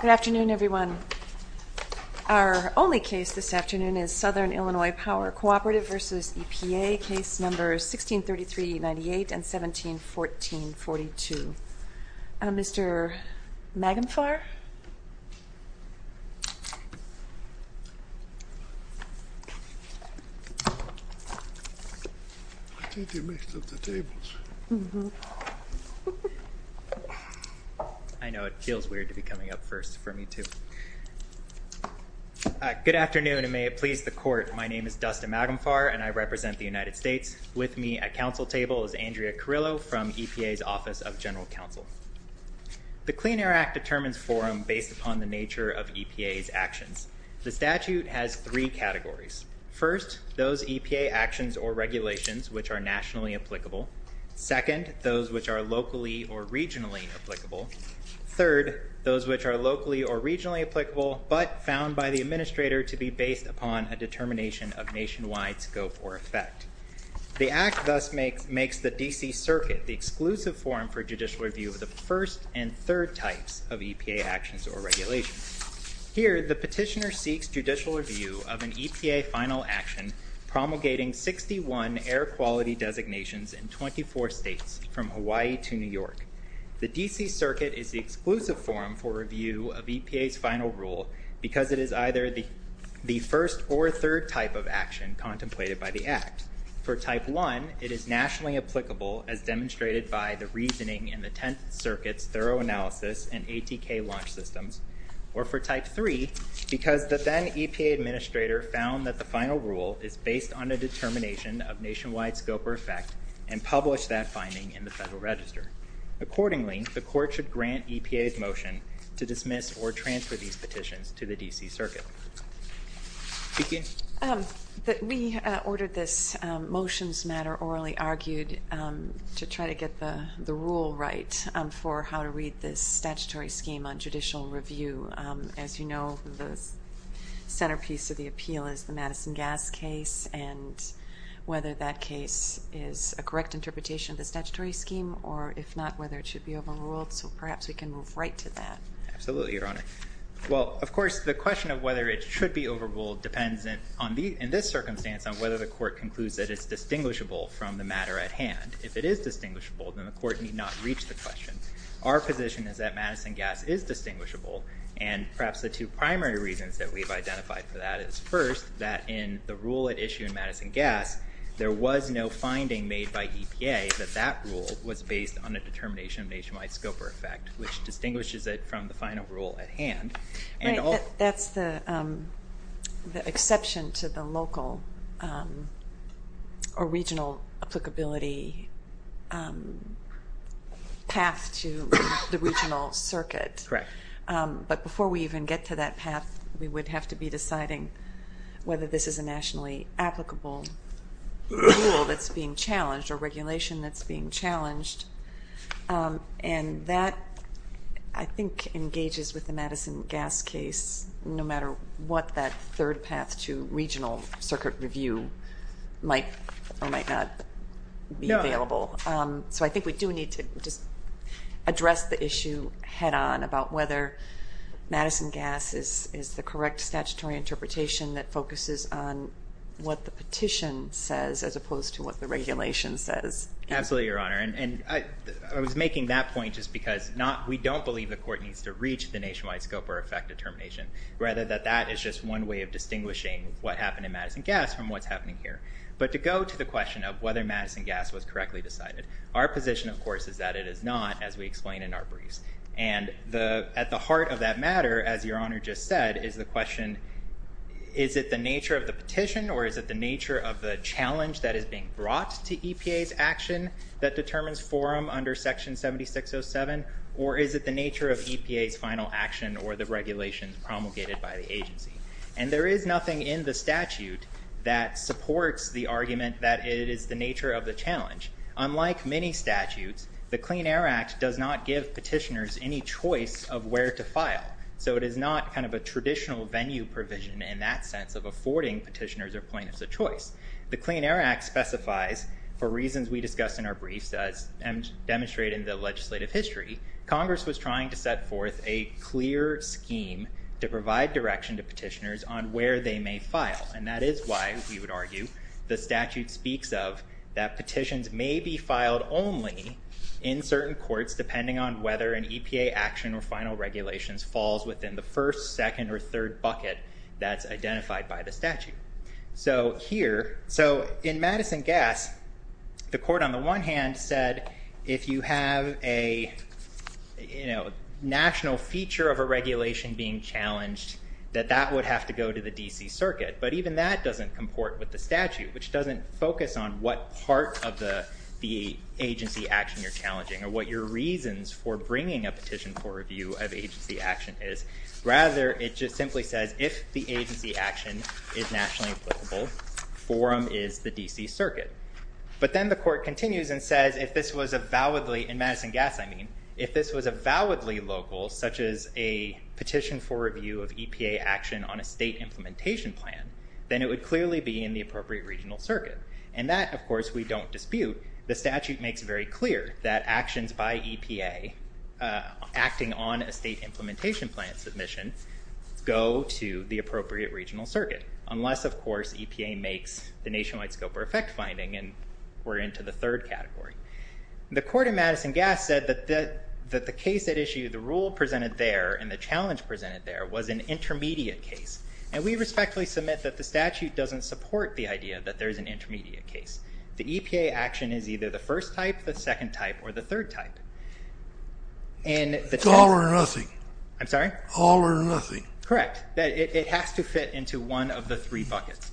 Good afternoon everyone. Our only case this afternoon is Southern Illinois Power Cooperative v. EPA, case numbers 1633-98 and 1714-42. Mr. Magenflaer? I know it feels weird to be coming up first for me too. Good afternoon and may it please the court. My name is Dustin Magenflaer and I represent the United States. With me at council table is Andrea Carrillo from EPA's Office of General Counsel. The Clean Air Act determines forum based upon the nature of EPA's actions. The statute has three categories. First, those EPA actions or regulations which are nationally applicable. Second, those which are locally or regionally applicable. Third, those which are locally or regionally applicable but found by the administrator to be based upon a determination of nationwide scope or effect. The act thus makes the D.C. Circuit the exclusive forum for judicial review of the first and third types of EPA actions or regulations. Here, the petitioner seeks judicial review of an EPA final action promulgating 61 air quality designations in 24 states from Hawaii to New York. The D.C. Circuit is the exclusive forum for review of EPA's final rule because it is either the first or third type of action contemplated by the act. For the reasoning in the Tenth Circuit's thorough analysis and ATK launch systems or for type three because the then EPA administrator found that the final rule is based on a determination of nationwide scope or effect and published that finding in the Federal Register. Accordingly, the court should grant EPA's motion to dismiss or transfer these petitions to the D.C. Circuit. We ordered this motions matter orally argued to try to get the rule right for how to read this statutory scheme on judicial review. As you know, the centerpiece of the appeal is the Madison Gas case and whether that case is a correct interpretation of the statutory scheme or if not, whether it should be overruled. So perhaps we can move right to that. Absolutely, Your Honor. Well, of course, the question of whether it should be overruled depends in this circumstance on whether the court concludes that it's distinguishable from the matter at hand. If it is distinguishable, then the court need not reach the question. Our position is that Madison Gas is distinguishable and perhaps the two primary reasons that we've identified for that is first that in the rule at issue in Madison Gas, there was no finding made by EPA that that rule was based on a determination of nationwide scope or effect which distinguishes it from the final rule at hand. Right, that's the exception to the local or regional applicability path to the regional circuit. Correct. But before we even get to that path, we would have to be deciding whether this is a nationally applicable rule that's being I think engages with the Madison Gas case no matter what that third path to regional circuit review might or might not be available. So I think we do need to just address the issue head on about whether Madison Gas is the correct statutory interpretation that focuses on what the petition says as opposed to what the regulation says. Absolutely, Your Honor. And I was making that point just because we don't believe the court needs to reach the nationwide scope or effect determination rather that that is just one way of distinguishing what happened in Madison Gas from what's happening here. But to go to the question of whether Madison Gas was correctly decided, our position of course is that it is not as we explained in our briefs. And at the heart of that matter, as Your Honor just said, is the question is it the nature of the petition or is it the nature of the challenge that is being brought to EPA's action that determines forum under Section 7607 or is it the nature of EPA's final action or the regulations promulgated by the agency. And there is nothing in the statute that supports the argument that it is the nature of the challenge. Unlike many statutes, the Clean Air Act does not give petitioners any choice of where to file. So it is not kind of a traditional venue provision in that sense of affording petitioners or plaintiffs a choice. The Clean Air Act specifies for reasons we discussed in our demonstration in the legislative history, Congress was trying to set forth a clear scheme to provide direction to petitioners on where they may file. And that is why we would argue the statute speaks of that petitions may be filed only in certain courts depending on whether an EPA action or final regulations falls within the first, second, or third bucket that's identified by the statute. So here, so in Madison Gas, the court on the one hand said if you have a, you know, national feature of a regulation being challenged that that would have to go to the D.C. Circuit. But even that doesn't comport with the statute, which doesn't focus on what part of the agency action you're challenging or what your reasons for bringing a petition for review of agency action is. Rather, it just simply says if the agency action is nationally applicable, forum is the D.C. Circuit. But then the court continues and says if this was a validly, in Madison Gas I mean, if this was a validly local, such as a petition for review of EPA action on a state implementation plan, then it would clearly be in the appropriate regional circuit. And that, of course, we don't dispute. The statute makes very clear that actions by EPA acting on a state implementation plan submission go to the appropriate regional circuit, unless, of course, EPA makes the nationwide scope or effect finding and we're into the third category. The court in Madison Gas said that the case at issue, the rule presented there, and the challenge presented there was an intermediate case. And we respectfully submit that the statute doesn't support the idea that there's an intermediate case. The EPA action is either the first type, the second type, or the third type. It's all or nothing. I'm sorry? All or nothing. Correct. It has to fit into one of the three buckets.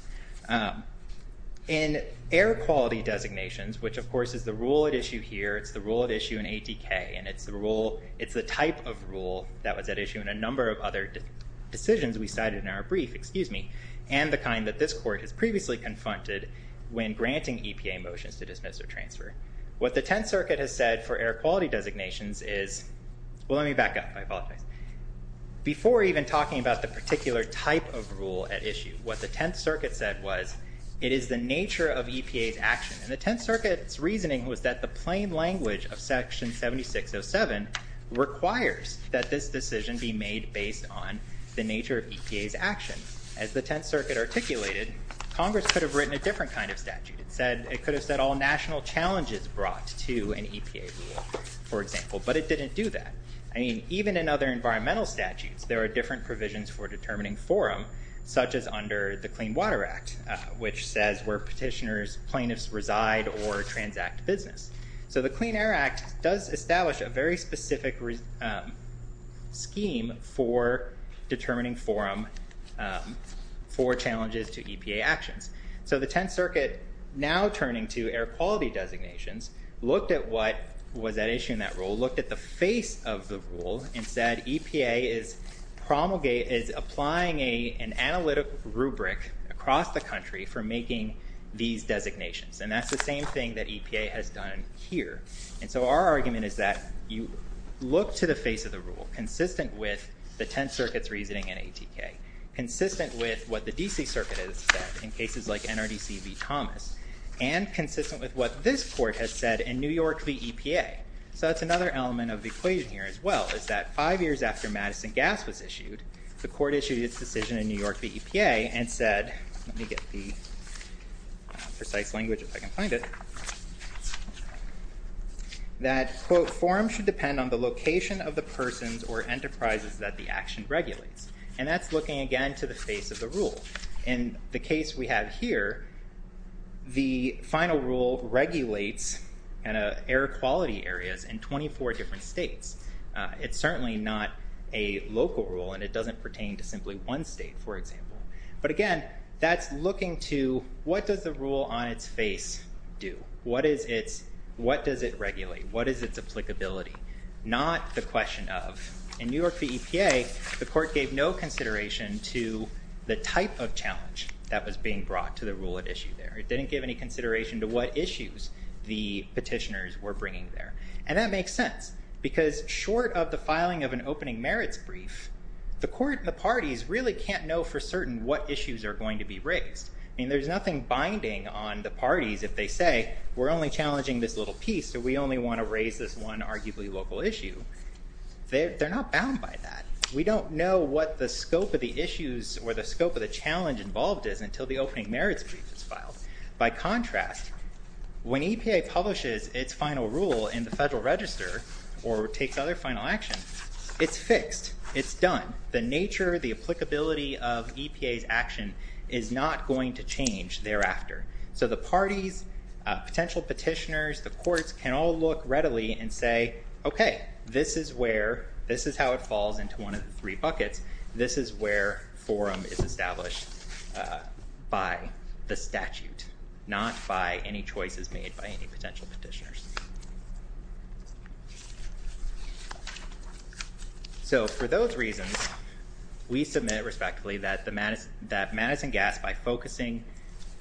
In air quality designations, which of course is the rule at issue here, it's the rule at issue in ATK, and it's the rule, it's the type of rule that was at issue in a number of other decisions we cited in our brief, excuse me, and the kind that this court has previously confronted when granting EPA motions to dismiss or transfer. What the Tenth Circuit has said for air quality designations is, well, let me back up. I apologize. Before even talking about the particular type of rule at issue, what the Tenth Circuit said was, it is the nature of EPA's action. And the Tenth Circuit's reasoning was that the plain language of section 7607 requires that this decision be made based on the nature of EPA's action. As the Tenth Circuit articulated, Congress could have done a different kind of statute. It could have said all national challenges brought to an EPA rule, for example, but it didn't do that. I mean, even in other environmental statutes, there are different provisions for determining forum, such as under the Clean Water Act, which says where petitioners, plaintiffs reside or transact business. So the Clean Air Act does establish a very specific scheme for determining forum for challenges to EPA actions. So the Tenth Circuit, now turning to air quality designations, looked at what was at issue in that rule, looked at the face of the rule, and said EPA is applying an analytic rubric across the country for making these designations. And that's the same thing that EPA has done here. And so our argument is that you look to the face of the rule, consistent with the Tenth Circuit's reasoning in ATK, consistent with what the DC Circuit has said in cases like NRDC v. Thomas, and consistent with what this court has said in New York v. EPA. So that's another element of the equation here as well, is that five years after Madison Gas was issued, the court issued its decision in New York v. EPA and said, let me get the precise language if I can find it, that, quote, forum should depend on the location of the persons or enterprises that the action regulates. And that's looking again to the face of the rule. In the case we have here, the final rule regulates air quality areas in 24 different states. It's certainly not a local rule and it doesn't pertain to simply one state, for example. But again, that's looking to what does the rule on its face do? What does it regulate? What is its applicability? Not the question of. In New York v. EPA, the court gave no consideration to the type of challenge that was being brought to the rule at issue there. It didn't give any consideration to what issues the petitioners were bringing there. And that makes sense, because short of the filing of an opening merits brief, the court and the parties really can't know for certain what issues are going to be raised. I mean, there's nothing binding on the parties if they say, we're only challenging this little piece, so we only want to raise this one arguably local issue. They're not bound by that. We don't know what the scope of the issues or the scope of the challenge involved is until the opening merits brief is filed. By contrast, when EPA publishes its final rule in the Federal Register or takes other final action, it's fixed. It's done. The nature, the applicability of EPA's action is not going to change thereafter. So the parties, potential petitioners, the courts can all look readily and say, okay, this is where, this is how it falls into one of the three buckets. This is where forum is established by the statute, not by any choices made by any potential petitioners. So for those reasons, we submit respectively that Madison Gass, by focusing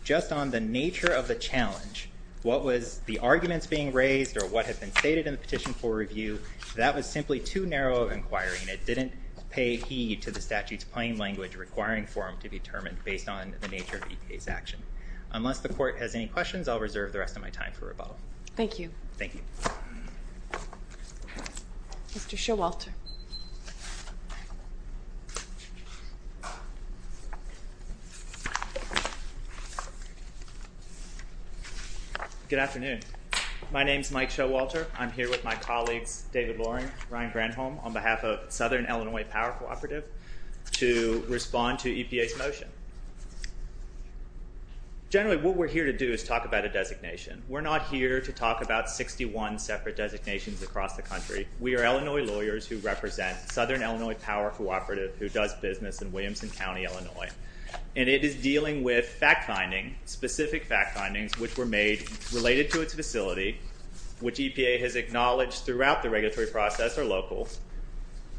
just on the nature of the challenge, what was the arguments being raised or what had been stated in the petition for review, that was simply too narrow of an inquiry, and it didn't pay heed to the statute's plain language requiring forum to be determined based on the nature of EPA's action. Unless the court has questions, I'll reserve the rest of my time for rebuttal. Thank you. Thank you. Mr. Showalter. Good afternoon. My name is Mike Showalter. I'm here with my colleagues David Loring, Ryan Granholm on behalf of Southern Illinois Power Cooperative to respond to EPA's motion. Generally, what we're here to do is talk about a designation. We're not here to talk about 61 separate designations across the country. We are Illinois lawyers who represent Southern Illinois Power Cooperative, who does business in Williamson County, Illinois. And it is dealing with fact finding, specific fact findings, which were made related to its facility, which EPA has acknowledged throughout the regulatory process are local,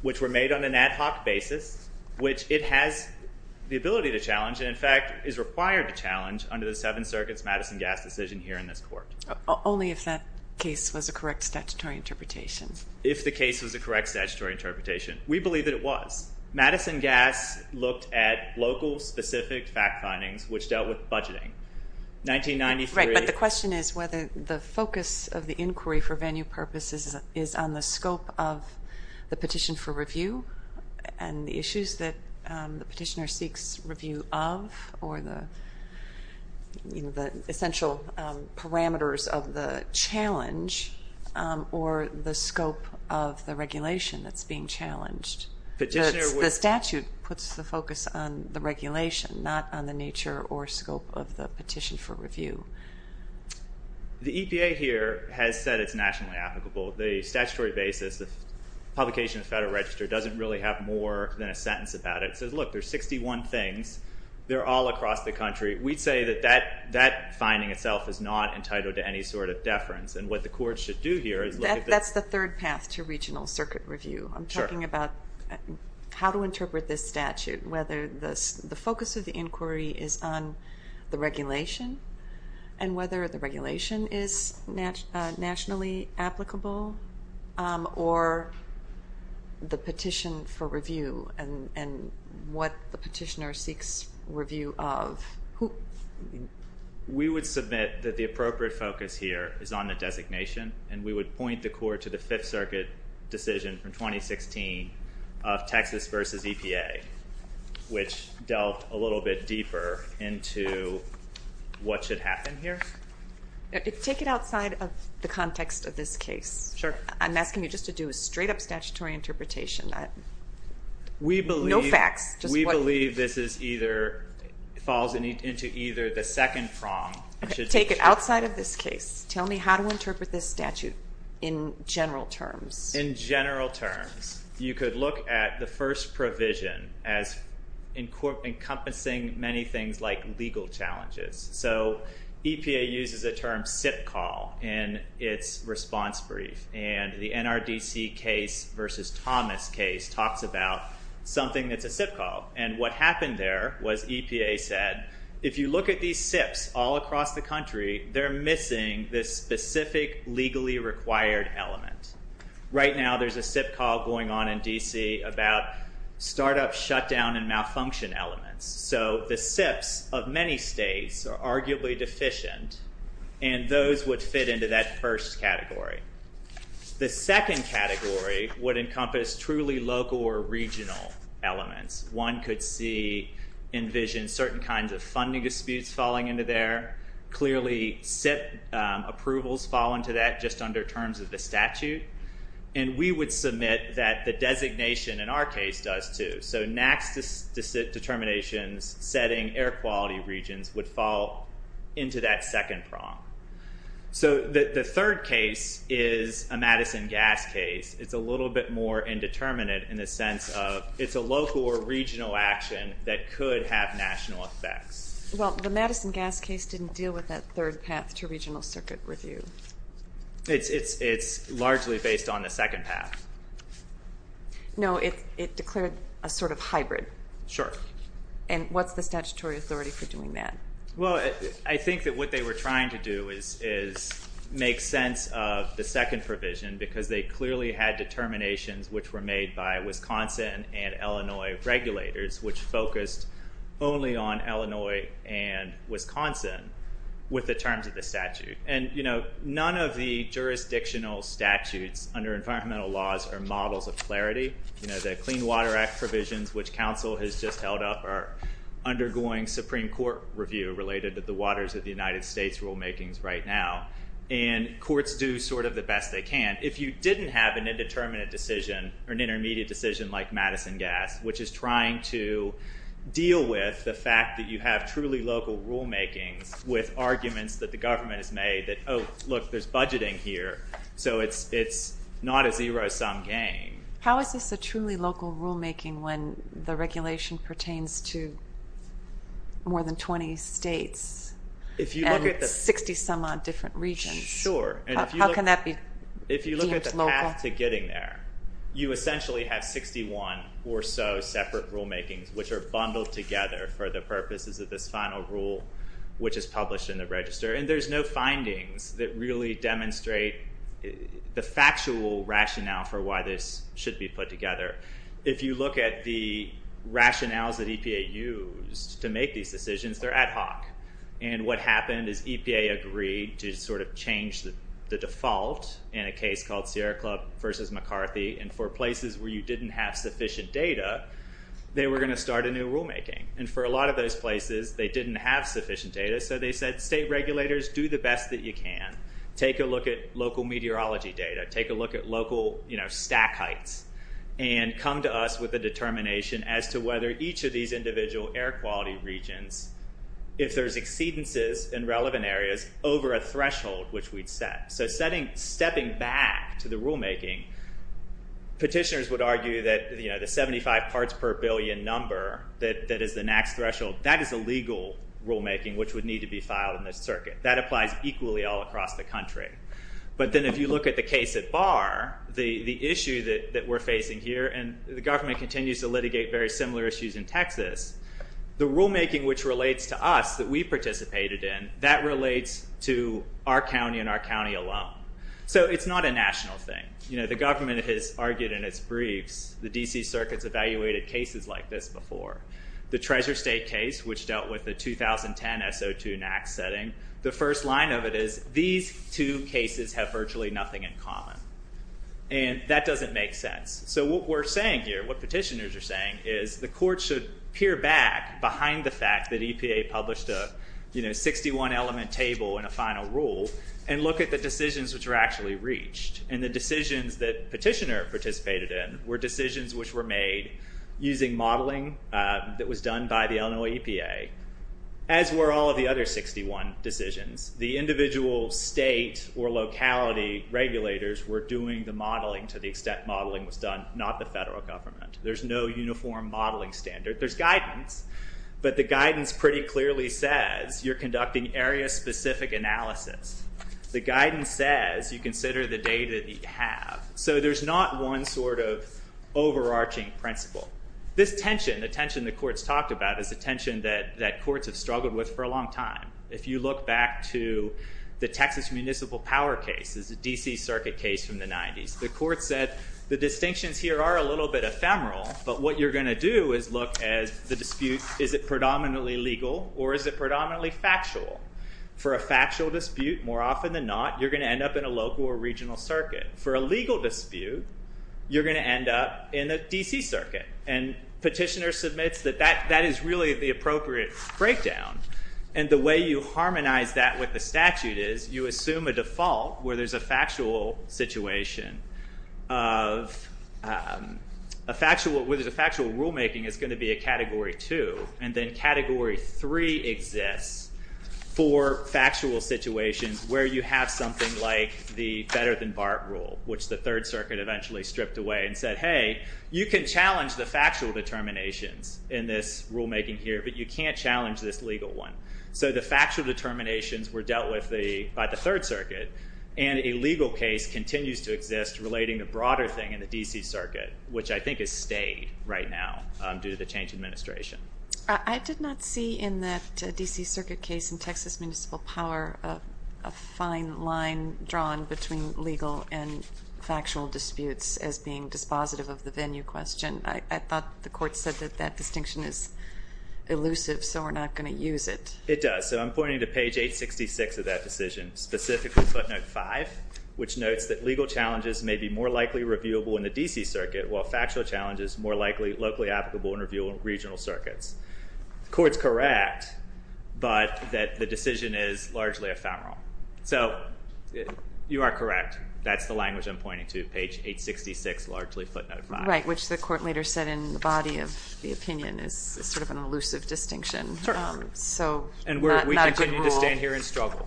which were made on an ad hoc basis, which it has the ability to challenge and, in fact, is required to challenge under the Seventh Circuit's Madison Gass decision here in this court. Only if that case was a correct statutory interpretation. If the case was a correct statutory interpretation. We believe that it was. Madison Gass looked at local, specific fact findings, which dealt with budgeting. 1993... Right, but the question is whether the focus of the inquiry for venue purposes is on the scope of the petition for review and the issues that the petitioner seeks review of, or the essential parameters of the challenge, or the scope of the regulation that's being challenged. The statute puts the focus on the regulation, not on the nature or scope of the petition for review. The EPA here has said it's nationally applicable. The statutory basis, the publication of the Federal Register, doesn't really have more than a sentence about it. It says, look, there's 61 things. They're all across the country. We'd say that that finding itself is not entitled to any sort of deference. And what the court should do here is look at the... That's the third path to regional circuit review. I'm talking about how to interpret this statute, whether the focus of the inquiry is on the regulation, and whether the regulation is nationally applicable, or the petition for review, and what the petitioner seeks review of. We would submit that the appropriate focus here is on the designation, and we would point the into what should happen here. Take it outside of the context of this case. Sure. I'm asking you just to do a straight up statutory interpretation. We believe... No facts, just what... We believe this is either... Falls into either the second prong. Take it outside of this case. Tell me how to interpret this statute in general terms. In general terms, you could look at the first provision as encompassing many things like legal challenges. EPA uses a term SIP call in its response brief, and the NRDC case versus Thomas case talks about something that's a SIP call. What happened there was EPA said, if you look at these SIPs all across the country, they're missing this specific legally required element. Right now there's a SIP call going on in D.C. about startup shutdown and malfunction elements. So the SIPs of many states are arguably deficient, and those would fit into that first category. The second category would encompass truly local or regional elements. One could see, envision certain kinds of funding disputes falling into there. Clearly SIP approvals fall into that just under terms of the statute, and we would submit that the designation in our case does too. So NAAQS determinations setting air quality regions would fall into that second prong. So the third case is a Madison gas case. It's a little bit more indeterminate in the sense of it's a local or regional action that could have national effects. Well, the Madison gas case didn't deal with that third path to regional circuit review. It's largely based on the second path. No, it declared a sort of hybrid. Sure. And what's the statutory authority for doing that? Well, I think that what they were trying to do is make sense of the second provision, because they clearly had determinations which were made by Wisconsin and Illinois regulators, which focused only on Illinois and Wisconsin with the terms of the statute. And none of the jurisdictional statutes under environmental laws are models of clarity. You know, the Clean Water Act provisions, which council has just held up, are undergoing Supreme Court review related to the waters of the United States rulemakings right now. And courts do sort of the best they can. If you didn't have an indeterminate decision or an intermediate decision like Madison gas, which is trying to deal with the fact that you have truly local rulemakings with arguments that the government has made that, oh, look, there's budgeting here. So it's not a zero sum game. How is this a truly local rulemaking when the regulation pertains to more than 20 states and it's 60 some odd different regions? Sure. How can that be deemed local? If you look at the path to getting there, you essentially have 61 or so separate rulemakings, which are bundled together for the purposes of this final rule, which is published in the register. And there's no findings that really demonstrate the factual rationale for why this should be put together. If you look at the rationales that EPA used to make these decisions, they're ad hoc. And what happened is EPA agreed to sort of change the default in a case called Sierra Club versus a new rulemaking. And for a lot of those places, they didn't have sufficient data. So they said, state regulators, do the best that you can. Take a look at local meteorology data. Take a look at local stack heights and come to us with a determination as to whether each of these individual air quality regions, if there's exceedances in relevant areas over a threshold, which we'd set. So setting, stepping back to the rulemaking, petitioners would argue that the 75 parts per billion number that is the NAAQS threshold, that is a legal rulemaking which would need to be filed in this circuit. That applies equally all across the country. But then if you look at the case at Barr, the issue that we're facing here, and the government continues to litigate very similar issues in Texas, the rulemaking which relates to us, that we participated in, that relates to our county and our county alum. So it's not a national thing. The government has argued in its briefs, the DC circuits evaluated cases like this before. The Treasure State case, which dealt with the 2010 SO2 NAAQS setting, the first line of it is, these two cases have virtually nothing in common. And that doesn't make sense. So what we're saying here, what petitioners are saying, is the court should peer back behind the fact that EPA published a 61 element table in a final rule and look at the decisions which were actually reached. And the decisions that petitioner participated in, were decisions which were made using modeling that was done by the Illinois EPA. As were all of the other 61 decisions, the individual state or locality regulators were doing the modeling to the extent modeling was done, not the federal government. There's no uniform modeling standard. There's guidance, but the guidance pretty clearly says, you're conducting area specific analysis. The guidance says, you consider the data that you have. So there's not one sort of overarching principle. This tension, the tension the courts talked about, is a tension that courts have struggled with for a long time. If you look back to the Texas Municipal Power case, it's a DC circuit case from the 90s. The court said, the distinctions here are a little bit ephemeral, but what you're going to do is look at the dispute, is it predominantly legal or is it predominantly factual? For a factual dispute, more often than not, you're going to end up in a local or regional circuit. For a legal dispute, you're going to end up in a DC circuit. And petitioner submits that that is really the appropriate breakdown. And the way you harmonize that with the statute is, you assume a default where there's a factual situation of a factual rule making is going to be a category two. And then category three exists for factual situations where you have something like the better than BART rule, which the Third Circuit eventually stripped away and said, hey, you can challenge the factual determinations in this rulemaking here, but you can't challenge this legal one. So the factual determinations were dealt with by the Third Circuit. And a legal case continues to exist relating a broader thing in the DC circuit, which I think is stayed right now due to the change in administration. I did not see in that DC circuit case in Texas municipal power a fine line drawn between legal and factual disputes as being dispositive of the venue question. I thought the court said that that distinction is elusive, so we're not going to use it. It does. So I'm pointing to page 866 of that decision, specifically footnote 5, which notes that legal challenges may be more likely reviewable in the DC circuit while factual challenges more likely locally applicable in review in regional circuits. Court's correct, but that the decision is largely ephemeral. So you are correct. That's the language I'm pointing to, page 866, largely footnote 5. Right, which the court later said in the body of the opinion is sort of an elusive distinction. Sure. So not a good rule. And we continue to stand here and struggle.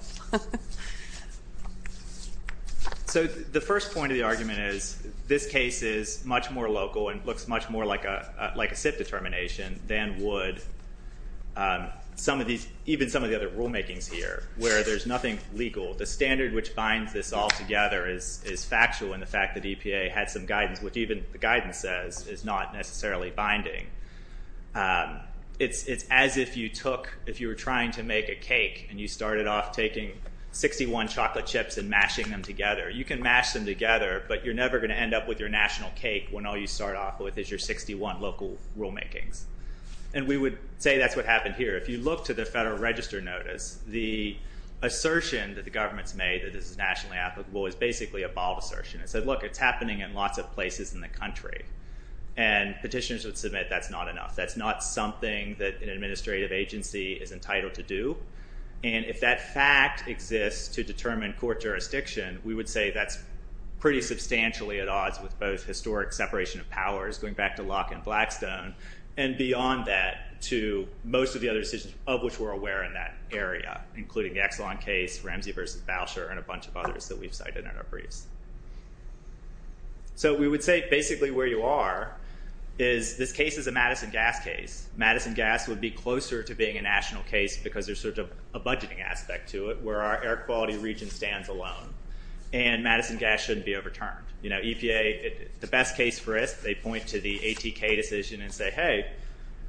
So the first point of the argument is, this case is much more local and looks much more like a SIPP determination than would even some of the other rulemakings here, where there's nothing legal. The standard which binds this all together is factual in the fact that EPA had some guidance, which even the guidance says is not necessarily binding. It's as if you took, if you were trying to make a cake and you started off taking 61 chocolate chips and mashing them together, you can mash them together, but you're never going to end up with your national cake when all you start off with is your 61 local rulemakings. And we would say that's what happened here. If you look to the Federal Register notice, the assertion that the government's made that this is nationally applicable is basically a bald assertion. It said, look, it's happening in lots of places in the country. And petitioners would submit that's not enough. That's not something that an administrative agency is entitled to do. And if that fact exists to determine court jurisdiction, we would say that's pretty substantially at odds with both historic separation of powers, going back to Locke and Blackstone, and beyond that to most of the other decisions of which we're aware in that area, including the Exelon case, Ramsey versus Boucher, and a bunch of others that we've cited in our briefs. So we would say basically where you are is this case is a Madison Gas case. Madison Gas would be closer to being a national case because there's sort of a budgeting aspect to it, where our air quality region stands alone. And Madison Gas shouldn't be overturned. You know, EPA, the best case for us, they point to the ATK decision and say, hey,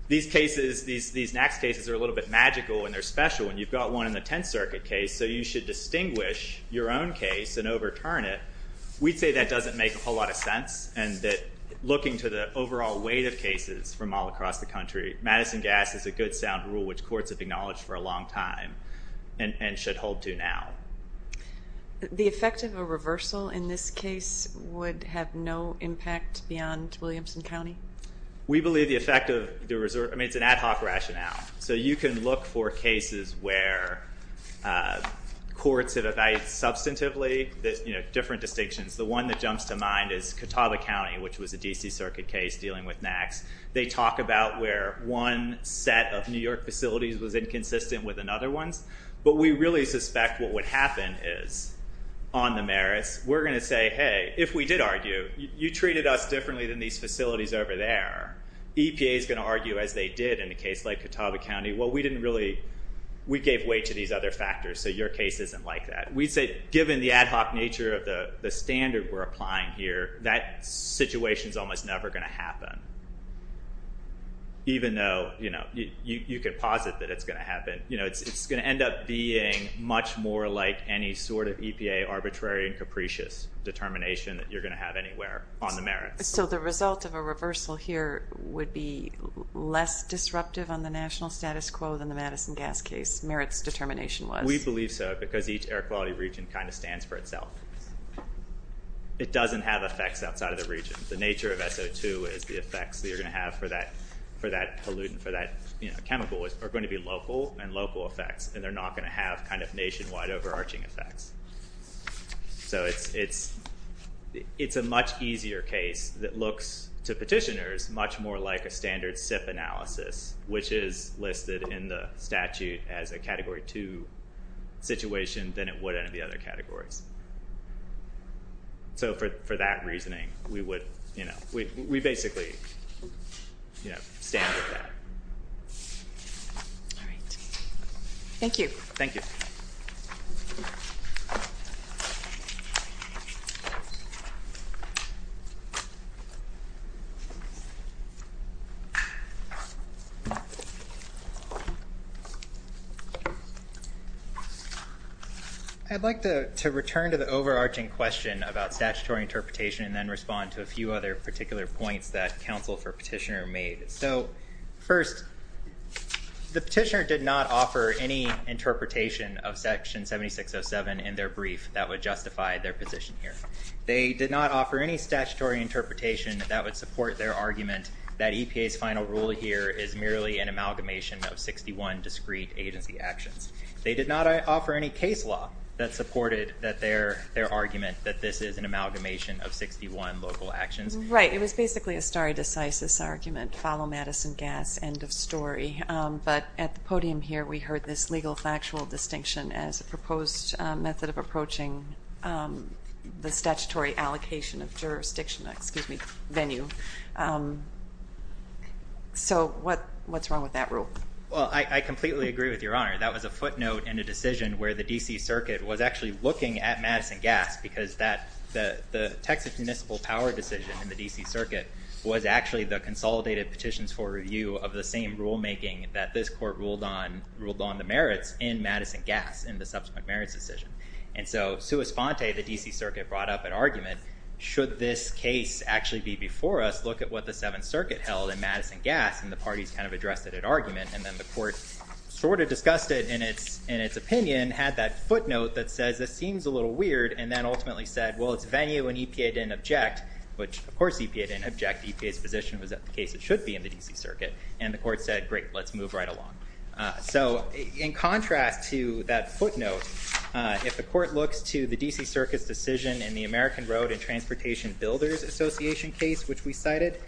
these cases, these next cases are a little bit magical, and they're special, and you've got one in the Tenth Circuit case, so you should distinguish your own case and overturn it. We'd say that doesn't make a whole lot of sense, and that looking to the overall weight of cases from all across the country, Madison Gas is a good sound rule which courts have acknowledged for a long time and should hold to now. The effect of a reversal in this case would have no impact beyond Williamson County? We believe the effect of the reserve, I mean, it's an ad hoc rationale. So you can look for cases where courts have evaluated substantively, there's, you know, different distinctions. The one that jumps to mind is Catawba County, which was a D.C. Circuit case dealing with NACs. They talk about where one set of New York facilities was inconsistent with another ones, but we really suspect what would happen is, on the merits, we're going to say, hey, if we did argue, you treated us differently than these facilities over there, EPA is going to argue as they did in a case like Catawba County, well, we didn't really, we gave way to these other factors, so your case isn't like that. We'd say, given the ad hoc nature of the standard we're applying here, that situation is almost never going to happen. Even though, you know, you could posit that it's going to happen, you know, it's going to end up being much more like any sort of EPA arbitrary and capricious determination that you're going to have anywhere on the merits. So the result of a reversal here would be less disruptive on the national status quo than the Madison gas case merits determination was? We believe so, because each air quality region kind of stands for itself. It doesn't have effects outside of the region. The nature of SO2 is the effects that you're going to have for that pollutant, for that chemical, are going to be local and local effects, and they're not going to have kind of nationwide overarching effects. So it's a much easier case that looks to petitioners much more like a standard SIP analysis, which is listed in the statute as a category two situation than it would in the other categories. So for that reasoning, we would, you know, we basically, you know, stand with that. All right. Thank you. Thank you. I'd like to return to the overarching question about statutory interpretation and then respond to a few other particular points that counsel for petitioner made. So first, the petitioner did not offer any interpretation of section 7607 in their brief that would justify their position here. They did not offer any statutory interpretation that would support their argument that EPA's final rule here is merely an amalgamation of 61 discrete agency actions. They did not offer any case law that supported their argument that this is an amalgamation of 61 local actions. Right. It was basically a stare decisis argument, follow Madison Gas, end of story. But at the podium here, we heard this legal factual distinction as a proposed method of approaching the statutory allocation of jurisdiction, excuse me, venue. So what's wrong with that rule? Well, I completely agree with Your Honor. That was a footnote in a decision where the D.C. Circuit was actually looking at Madison Gas because the Texas Municipal Power decision in the D.C. Circuit was actually the consolidated petitions for review of the same rulemaking that this court ruled on the merits in Madison Gas in the subsequent merits decision. And so, sua sponte, the D.C. Circuit brought up an argument, should this case actually be before us? Look at what the Seventh Circuit held in Madison Gas and the parties kind of addressed it at argument and then the court sort of discussed it in its opinion, had that footnote that says this seems a little weird and then ultimately said, well, it's venue and EPA didn't object, which, of course, EPA didn't object. EPA's position was that the case should be in the D.C. Circuit and the court said, great, let's move right along. So in contrast to that footnote, if the court looks to the D.C. Circuit's decision in the American Road and Transportation Builders Association case, which we cited,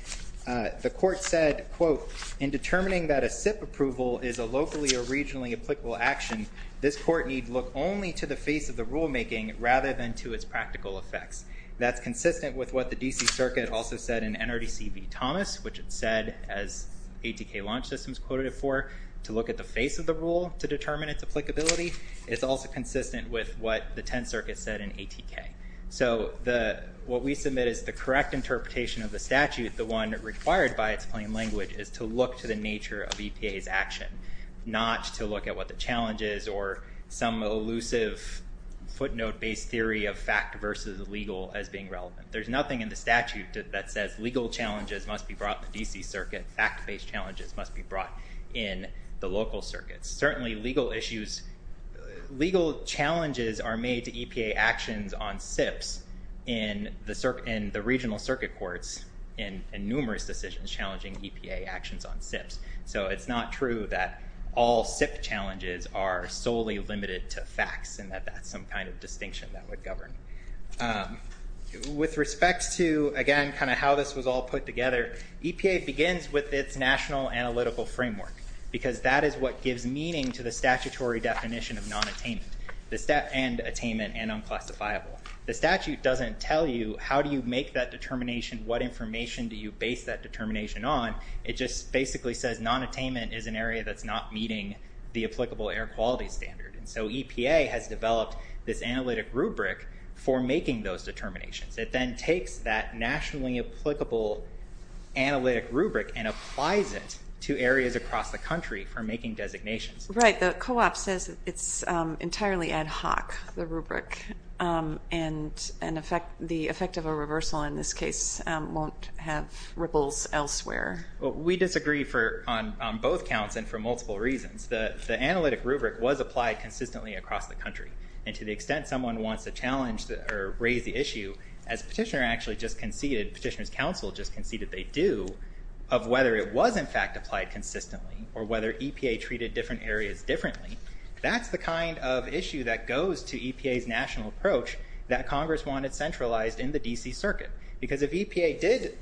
the court said, quote, in determining that a SIP approval is a locally or regionally applicable action, this court need look only to the face of the rulemaking rather than to its practical effects. That's consistent with what the D.C. Circuit also said in NRDC v. Thomas, which it said, as ATK Launch Systems quoted it for, to look at the face of the rule to determine its applicability. It's also consistent with what the Tenth Circuit said in ATK. So what we submit is the correct interpretation of the statute, the one required by its plain language, is to look to the nature of EPA's action, not to look at what the challenge is or some elusive footnote-based theory of fact versus legal as being relevant. There's nothing in the statute that says legal challenges must be brought in the D.C. Circuit, fact-based challenges must be brought in the local circuits. Certainly legal issues, legal challenges are made to EPA actions on SIPs in the regional circuit courts in numerous decisions challenging EPA actions on SIPs. So it's not true that all SIP challenges are solely limited to facts and that that's some kind of distinction that would govern. With respect to, again, kind of how this was all put together, EPA begins with its national analytical framework because that is what gives meaning to the statutory definition of non-attainment, and attainment, and unclassifiable. The statute doesn't tell you how do you make that determination, what information do you base that determination on. It just basically says non-attainment is an area that's not meeting the applicable air quality standard. And so EPA has developed this analytic rubric for making those determinations. It then takes that nationally applicable analytic rubric and applies it to areas across the country for making designations. Right. The co-op says it's entirely ad hoc, the rubric, and the effect of a reversal in this case won't have ripples elsewhere. We disagree on both counts and for multiple reasons. The analytic rubric was applied consistently across the country. And to the extent someone wants to challenge or raise the issue, as Petitioner actually just conceded, Petitioner's counsel just conceded they do, of whether it was in fact applied consistently or whether EPA treated different areas differently, that's the kind of issue that goes to EPA's national approach that Congress wanted centralized in the DC Circuit. Because if EPA did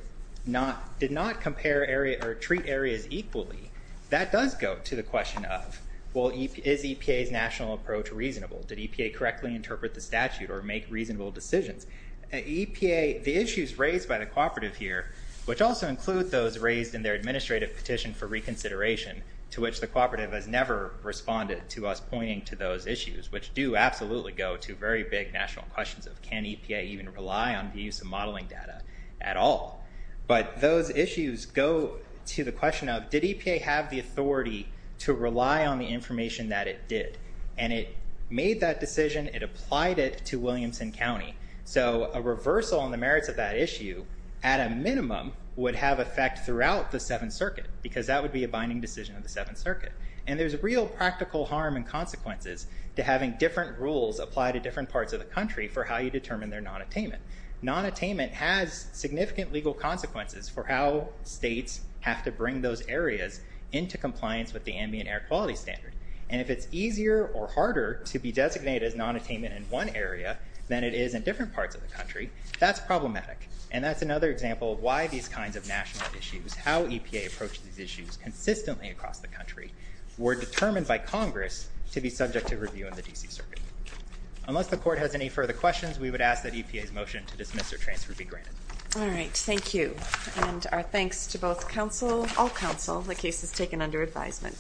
not compare areas or treat areas equally, that does go to the question of, well, is EPA's national approach reasonable? Did EPA correctly interpret the statute or make reasonable decisions? The issues raised by the cooperative here, which also include those raised in their administrative petition for reconsideration, to which the cooperative has never responded to us pointing to those issues, which do absolutely go to very big national questions of, can EPA even rely on the use of modeling data at all? But those issues go to the question of, did EPA have the authority to rely on the information that it did? And it made that decision, it applied it to Williamson County. So a reversal on the merits of that issue, at a minimum, would have effect throughout the Seventh Circuit, because that would be a binding decision of the Seventh Circuit. And there's real practical harm and consequences to having different rules apply to different parts of the country for how you determine their non-attainment. Non-attainment has significant legal consequences for how states have to bring those areas into compliance with the ambient air quality standard. And if it's easier or harder to be designated as non-attainment in one area than it is in different parts of the country, that's problematic. And that's another example of why these kinds of national issues, how EPA approached these issues consistently across the country, were determined by Congress to be subject to review in the D.C. Circuit. Unless the Court has any further questions, we would ask that EPA's motion to dismiss or transfer be granted. All right, thank you. And our thanks to both counsel, all counsel, the cases taken under advisement. Thank you.